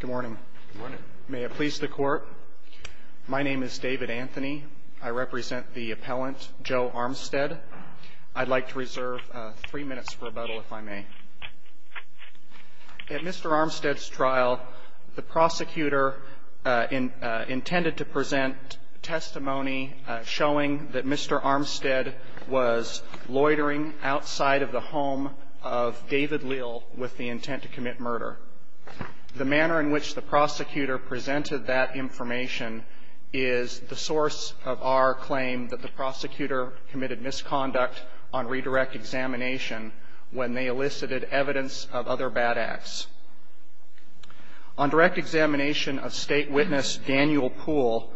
Good morning. May it please the court. My name is David Anthony. I represent the appellant, Joe Armstead. I'd like to reserve three minutes for rebuttal, if I may. At Mr. Armstead's trial, the prosecutor intended to present testimony showing that Mr. Armstead was loitering outside of the home of David Leal with the intent to commit murder. The manner in which the prosecutor presented that information is the source of our claim that the prosecutor committed misconduct on redirect examination when they elicited evidence of other bad acts. On direct examination of State witness Daniel Poole,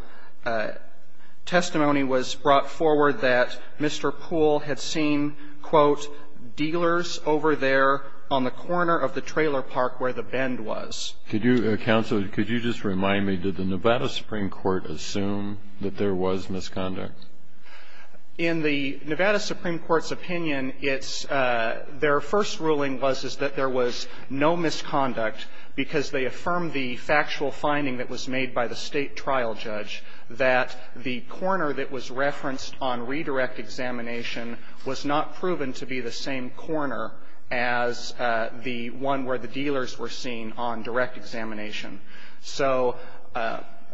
testimony was brought forward that Mr. Poole had seen, quote, dealers over there on the corner of the trailer park where the bend was. Could you, counsel, could you just remind me, did the Nevada Supreme Court assume that there was misconduct? In the Nevada Supreme Court's opinion, it's their first ruling was that there was no misconduct because they affirmed the factual finding that was made by the State trial judge that the corner that was referenced on redirect examination was not proven to be the same corner as the one where the dealers were seen on direct examination. So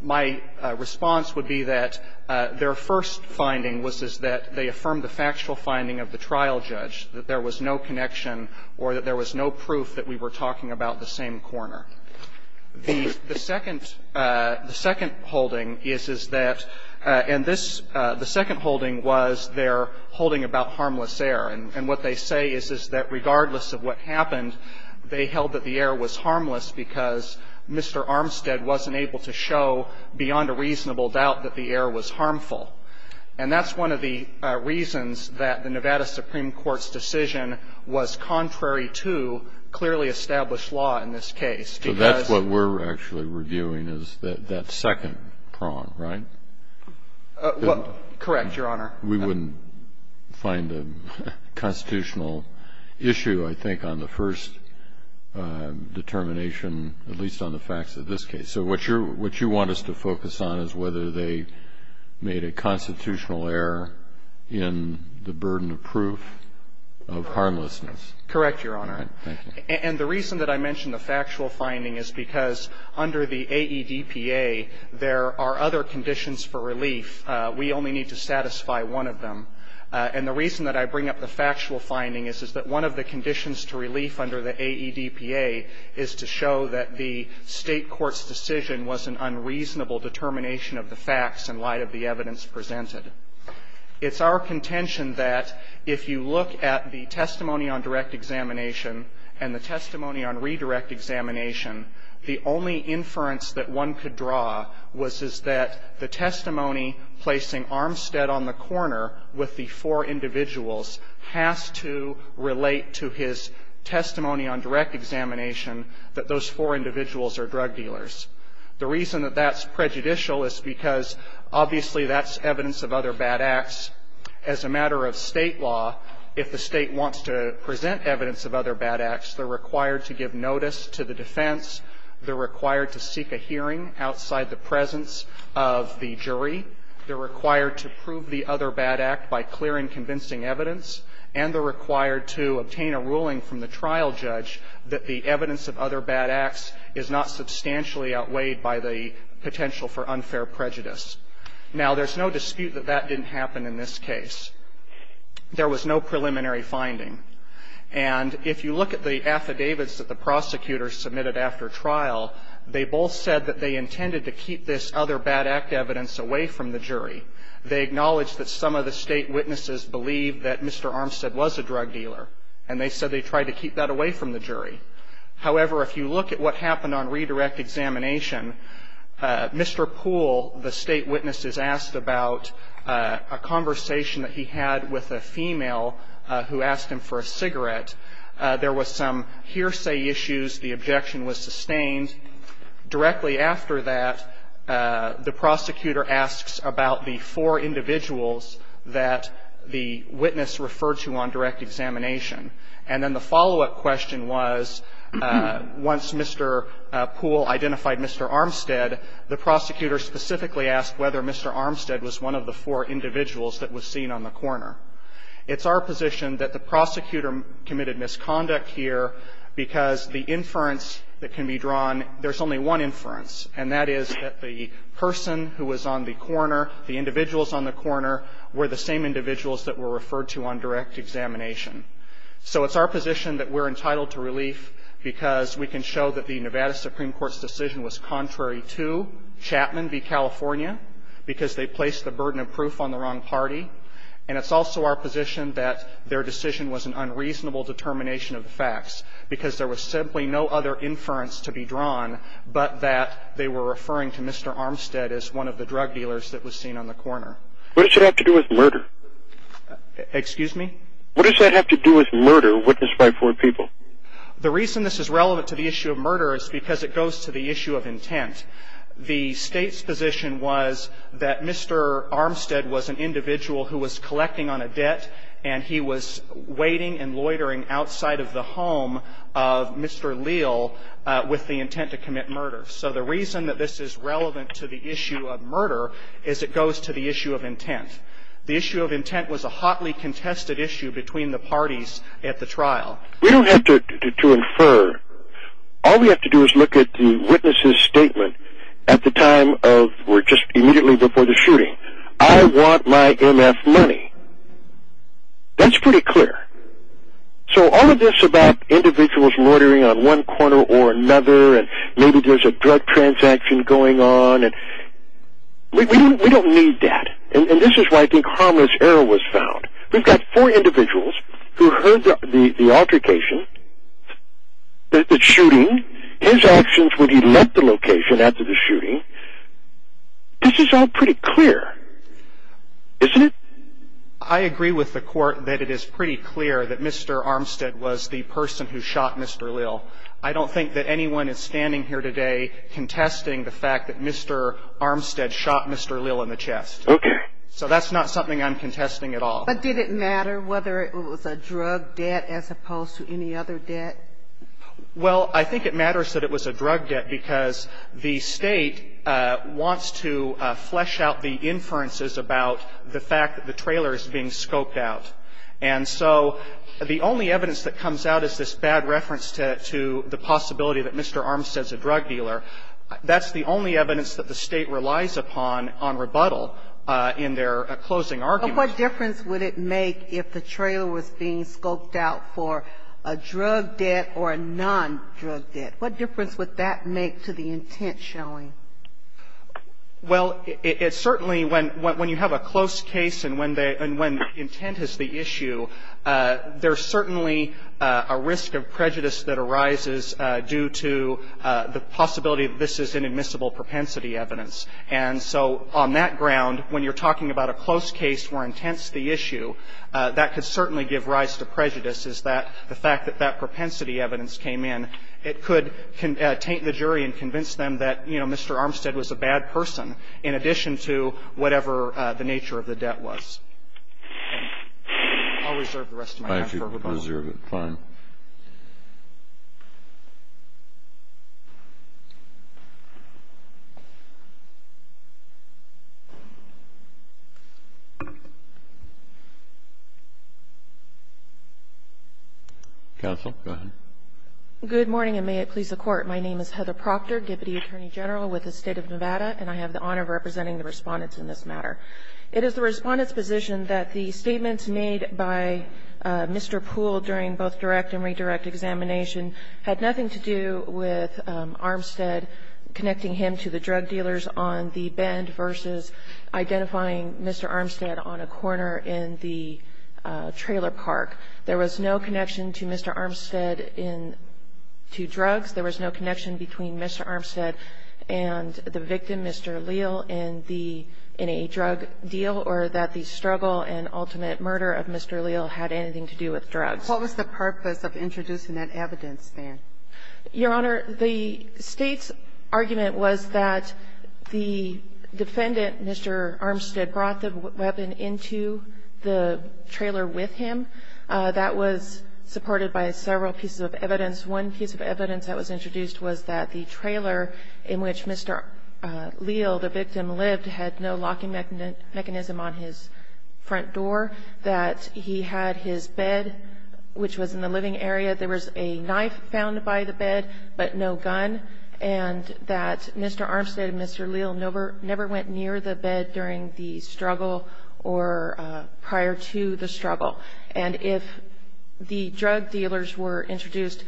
my response would be that their first finding was that they affirmed the factual finding of the trial judge, that there was no connection or that there was no proof that we were talking about the same corner. The second holding is that, and this, the second holding was their holding about harmless air, and what they say is that regardless of what happened, they held that the air was harmless because Mr. Armstead wasn't able to show beyond a reasonable doubt that the air was harmful. And that's one of the reasons that the Nevada Supreme Court's decision was contrary to clearly established law in this case. So that's what we're actually reviewing is that second prong, right? Well, correct, Your Honor. We wouldn't find a constitutional issue, I think, on the first determination, at least on the facts of this case. So what you want us to focus on is whether they made a constitutional error in the burden of proof of harmlessness. Correct, Your Honor. And the reason that I mention the factual finding is because under the AEDPA, there are other conditions for relief. We only need to satisfy one of them. And the reason that I bring up the factual finding is that one of the conditions to relief under the AEDPA is to show that the State court's decision was an unreasonable determination of the facts in light of the evidence presented. It's our contention that if you look at the testimony on direct examination and the testimony on redirect examination, the only inference that one could draw was that the testimony placing Armstead on the corner with the four individuals has to relate to his testimony on direct examination that those four individuals are drug dealers. The reason that that's prejudicial is because, obviously, that's evidence of other bad acts. As a matter of State law, if the State wants to present evidence of other bad acts, they're required to give notice to the defense. They're required to seek a hearing outside the presence of the jury. They're required to prove the other bad act by clear and convincing evidence. And they're required to obtain a ruling from the trial judge that the evidence of other bad acts is not substantially outweighed by the potential for unfair prejudice. Now, there's no dispute that that didn't happen in this case. There was no preliminary finding. And if you look at the affidavits that the prosecutors submitted after trial, they both said that they intended to keep this other bad act evidence away from the jury. They acknowledged that some of the State witnesses believed that Mr. Armstead was a drug dealer. And they said they tried to keep that away from the jury. However, if you look at what happened on redirect examination, Mr. Poole, the State witness, is asked about a conversation that he had with a female who asked him for a cigarette. There was some hearsay issues. The objection was sustained. Directly after that, the prosecutor asks about the four individuals that the witness referred to on direct examination. And then the follow-up question was, once Mr. Poole identified Mr. Armstead, the prosecutor specifically asked whether Mr. Armstead was one of the four individuals that was seen on the corner. It's our position that the prosecutor committed misconduct here because the inference that can be drawn, there's only one inference, and that is that the person who was on the corner, the individuals on the corner, were the same individuals that were referred to on direct examination. So it's our position that we're entitled to relief because we can show that the Nevada Supreme Court's decision was contrary to Chapman v. California because they placed the burden of proof on the wrong party. And it's also our position that their decision was an unreasonable determination of the facts because there was simply no other inference to be drawn but that they were referring to Mr. Armstead as one of the drug dealers that was seen on the corner. What does that have to do with murder? Excuse me? What does that have to do with murder witnessed by four people? The reason this is relevant to the issue of murder is because it goes to the issue of intent. The State's position was that Mr. Armstead was an individual who was collecting on a debt, and he was waiting and loitering outside of the home of Mr. Leal with the intent to commit murder. So the reason that this is relevant to the issue of murder is it goes to the issue of intent. The issue of intent was a hotly contested issue between the parties at the trial. We don't have to infer. All we have to do is look at the witness's statement at the time of or just immediately before the shooting. I want my M.F. money. That's pretty clear. So all of this about individuals loitering on one corner or another and maybe there's a drug transaction going on, we don't need that. And this is why I think harmless error was found. We've got four individuals who heard the altercation, the shooting, his actions when he left the location after the shooting. This is all pretty clear, isn't it? I agree with the Court that it is pretty clear that Mr. Armstead was the person who shot Mr. Leal. I don't think that anyone is standing here today contesting the fact that Mr. Armstead shot Mr. Leal in the chest. Okay. So that's not something I'm contesting at all. But did it matter whether it was a drug debt as opposed to any other debt? Well, I think it matters that it was a drug debt because the State wants to flesh out the inferences about the fact that the trailer is being scoped out. And so the only evidence that comes out as this bad reference to the possibility that Mr. Armstead is a drug dealer, that's the only evidence that the State relies upon on rebuttal in their closing argument. But what difference would it make if the trailer was being scoped out for a drug debt or a non-drug debt? What difference would that make to the intent showing? Well, it certainly, when you have a close case and when intent is the issue, there's certainly a risk of prejudice that arises due to the possibility that this is inadmissible propensity evidence. And so on that ground, when you're talking about a close case where intent's the issue, that could certainly give rise to prejudice is that the fact that that propensity evidence came in, it could taint the jury and convince them that, you know, Mr. Armstead was a bad person in addition to whatever the nature of the debt was. I'll reserve the rest of my time for rebuttal. I'll reserve it, fine. Counsel, go ahead. Good morning, and may it please the Court. My name is Heather Proctor, Deputy Attorney General with the State of Nevada, and I have the honor of representing the Respondents in this matter. It is the Respondents' position that the statements made by Mr. Poole during both direct and redirect examination had nothing to do with Armstead connecting him to the drug dealers on the bend versus identifying Mr. Armstead on a corner in the trailer park. There was no connection to Mr. Armstead in two drugs. There was no connection between Mr. Armstead and the victim, Mr. Leal, in the NAA drug deal, or that the struggle and ultimate murder of Mr. Leal had anything to do with drugs. What was the purpose of introducing that evidence, then? Your Honor, the State's argument was that the defendant, Mr. Armstead, brought the weapon into the trailer with him. That was supported by several pieces of evidence. One piece of evidence that was introduced was that the trailer in which Mr. Leal, the victim, lived had no locking mechanism on his front door, that he had his bed, which was in the living area. There was a knife found by the bed but no gun, and that Mr. Armstead and Mr. Leal never went near the bed during the struggle or prior to the struggle. And if the drug dealers were introduced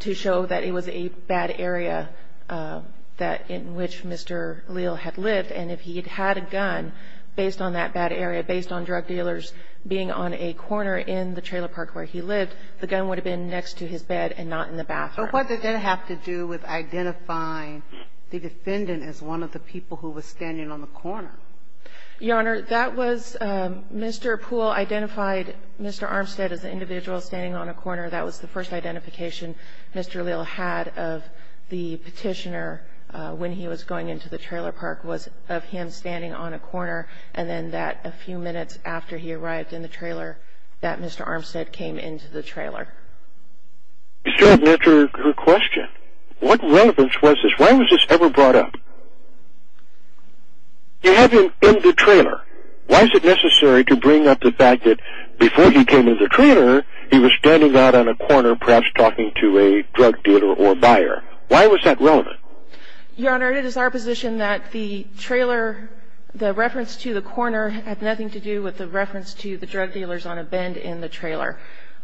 to show that it was a bad area in which Mr. Leal had lived, and if he had had a gun based on that bad area, based on drug dealers being on a corner in the trailer park where he lived, the gun would have been next to his bed and not in the bathroom. But what did that have to do with identifying the defendant as one of the people who was standing on the corner? Your Honor, that was Mr. Poole identified Mr. Armstead as an individual standing on a corner. That was the first identification Mr. Leal had of the petitioner when he was going into the trailer park was of him standing on a corner, and then that a few minutes after he arrived in the trailer that Mr. Armstead came into the trailer. You still haven't answered her question. What relevance was this? When was this ever brought up? You have him in the trailer. Why is it necessary to bring up the fact that before he came in the trailer he was standing out on a corner perhaps talking to a drug dealer or buyer? Why was that relevant? Your Honor, it is our position that the trailer, the reference to the corner, had nothing to do with the reference to the drug dealers on a bend in the trailer.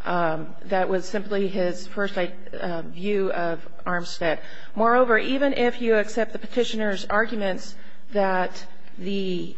That was simply his first view of Armstead. Moreover, even if you accept the petitioner's arguments that the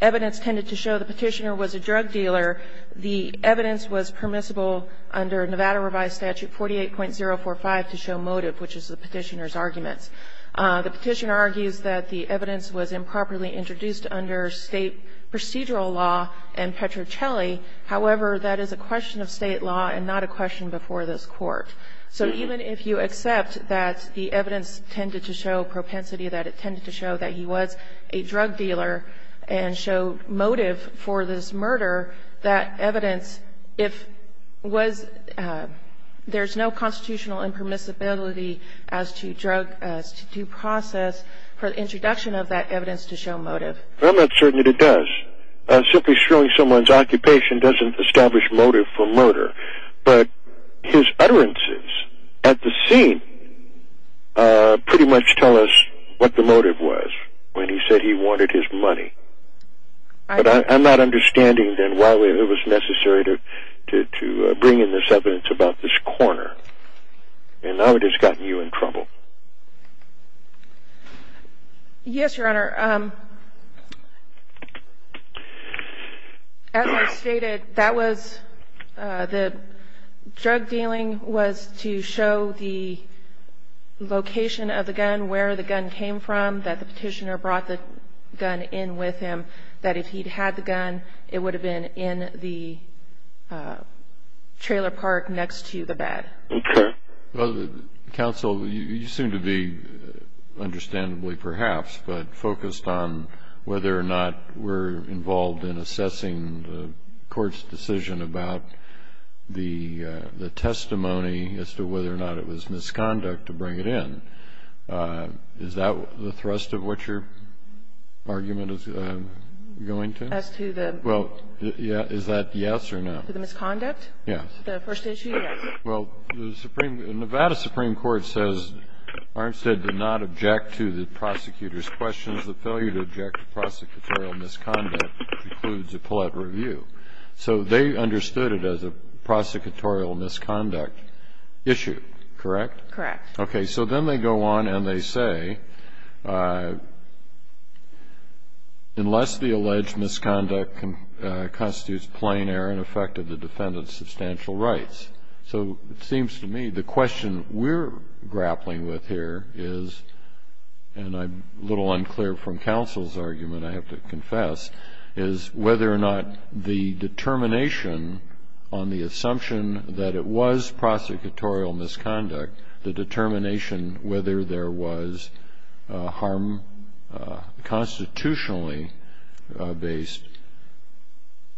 evidence tended to show the petitioner was a drug dealer, the evidence was permissible under Nevada revised statute 48.045 to show motive, which is the petitioner's arguments. The petitioner argues that the evidence was improperly introduced under state procedural law and Petrocelli. However, that is a question of state law and not a question before this Court. So even if you accept that the evidence tended to show propensity, that it tended to show that he was a drug dealer and showed motive for this murder, that evidence, if there's no constitutional impermissibility as to drug due process for the introduction of that evidence to show motive. I'm not certain that it does. But his utterances at the scene pretty much tell us what the motive was when he said he wanted his money. But I'm not understanding then why it was necessary to bring in this evidence about this corner. And now it has gotten you in trouble. Yes, Your Honor. As I stated, that was the drug dealing was to show the location of the gun, where the gun came from, that the petitioner brought the gun in with him, that if he'd had the gun, it would have been in the trailer park next to the bed. Okay. Well, counsel, you seem to be, understandably perhaps, but focused on whether or not we're involved in assessing the court's decision about the testimony as to whether or not it was misconduct to bring it in. Is that the thrust of what your argument is going to? As to the? Well, is that yes or no? To the misconduct? Yes. The first issue? Yes. Well, the Nevada Supreme Court says Armstead did not object to the prosecutor's questions. The failure to object to prosecutorial misconduct includes a pullout review. So they understood it as a prosecutorial misconduct issue, correct? Correct. Okay. So then they go on and they say, unless the alleged misconduct constitutes plain error and affected the defendant's substantial rights. So it seems to me the question we're grappling with here is, and I'm a little unclear from counsel's argument, I have to confess, is whether or not the determination on the assumption that it was prosecutorial misconduct, the determination whether there was harm constitutionally based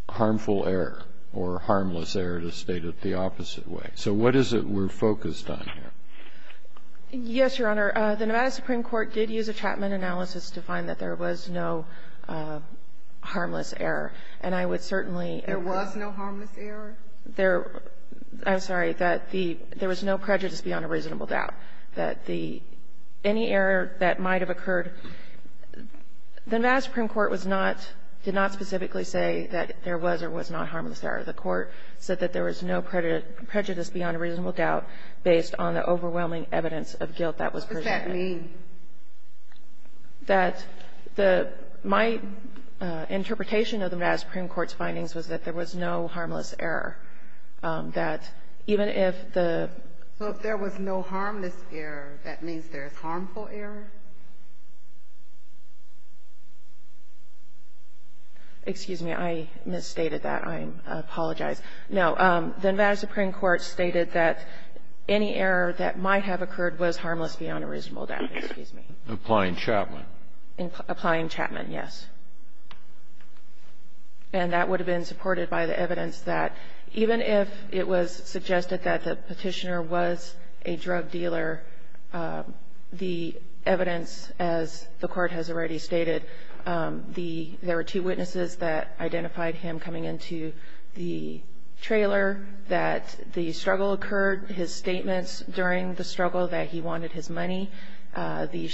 harmful error or harmless error, to state it the opposite way. So what is it we're focused on here? Yes, Your Honor. The Nevada Supreme Court did use a Chapman analysis to find that there was no harmless error, and I would certainly. There was no harmless error? I'm sorry. That there was no prejudice beyond a reasonable doubt. That the any error that might have occurred, the Nevada Supreme Court was not, did not specifically say that there was or was not harmless error. The Court said that there was no prejudice beyond a reasonable doubt based on the overwhelming evidence of guilt that was presented. What's that mean? That the my interpretation of the Nevada Supreme Court's findings was that there was no harmless error, that even if the. So if there was no harmless error, that means there is harmful error? Excuse me. I misstated that. I apologize. No. The Nevada Supreme Court stated that any error that might have occurred was harmless beyond a reasonable doubt. Excuse me. Applying Chapman. Applying Chapman, yes. And that would have been supported by the evidence that even if it was suggested that the petitioner was a drug dealer, the evidence, as the Court has already stated, there were two witnesses that identified him coming into the trailer, that the struggle occurred, his statements during the struggle that he wanted his gun, that he had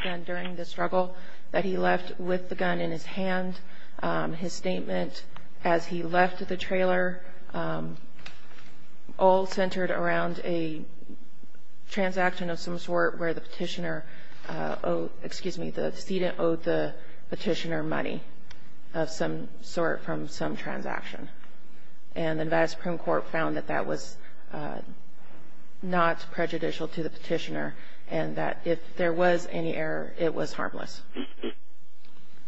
the gun during the struggle, that he left with the gun in his hand, his statement as he left the trailer, all centered around a transaction of some sort where the petitioner, excuse me, the student owed the petitioner money of some sort from some transaction. And the Nevada Supreme Court found that that was not prejudicial to the petitioner and that if there was any error, it was harmless.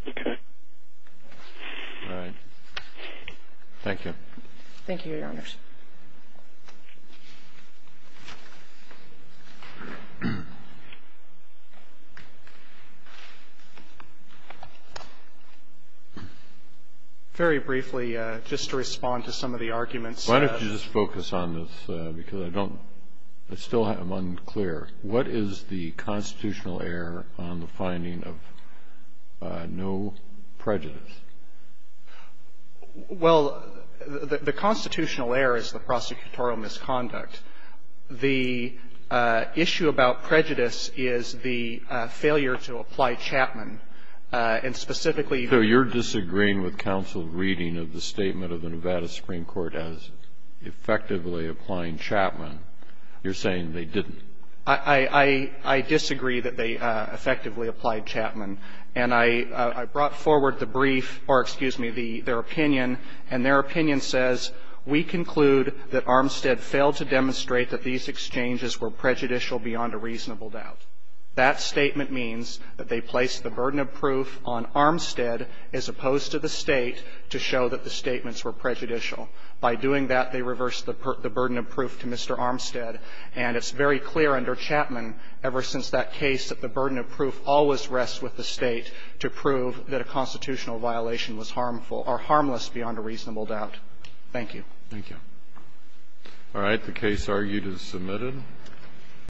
Okay. All right. Thank you. Thank you, Your Honors. Very briefly, just to respond to some of the arguments. Why don't you just focus on this because I don't, I still am unclear. What is the constitutional error on the finding of no prejudice? Well, the constitutional error is the prosecutorial misconduct. The issue about prejudice is the failure to apply Chapman. And specifically you're disagreeing with counsel reading of the statement of the Nevada Supreme Court as effectively applying Chapman. You're saying they didn't. I disagree that they effectively applied Chapman. And I brought forward the brief or, excuse me, their opinion, and their opinion says, we conclude that Armstead failed to demonstrate that these exchanges were prejudicial beyond a reasonable doubt. That statement means that they placed the burden of proof on Armstead as opposed to the State to show that the statements were prejudicial. By doing that, they reversed the burden of proof to Mr. Armstead. And it's very clear under Chapman, ever since that case, that the burden of proof always rests with the State to prove that a constitutional violation was harmful or harmless beyond a reasonable doubt. Thank you. Thank you. All right. The case argued is submitted.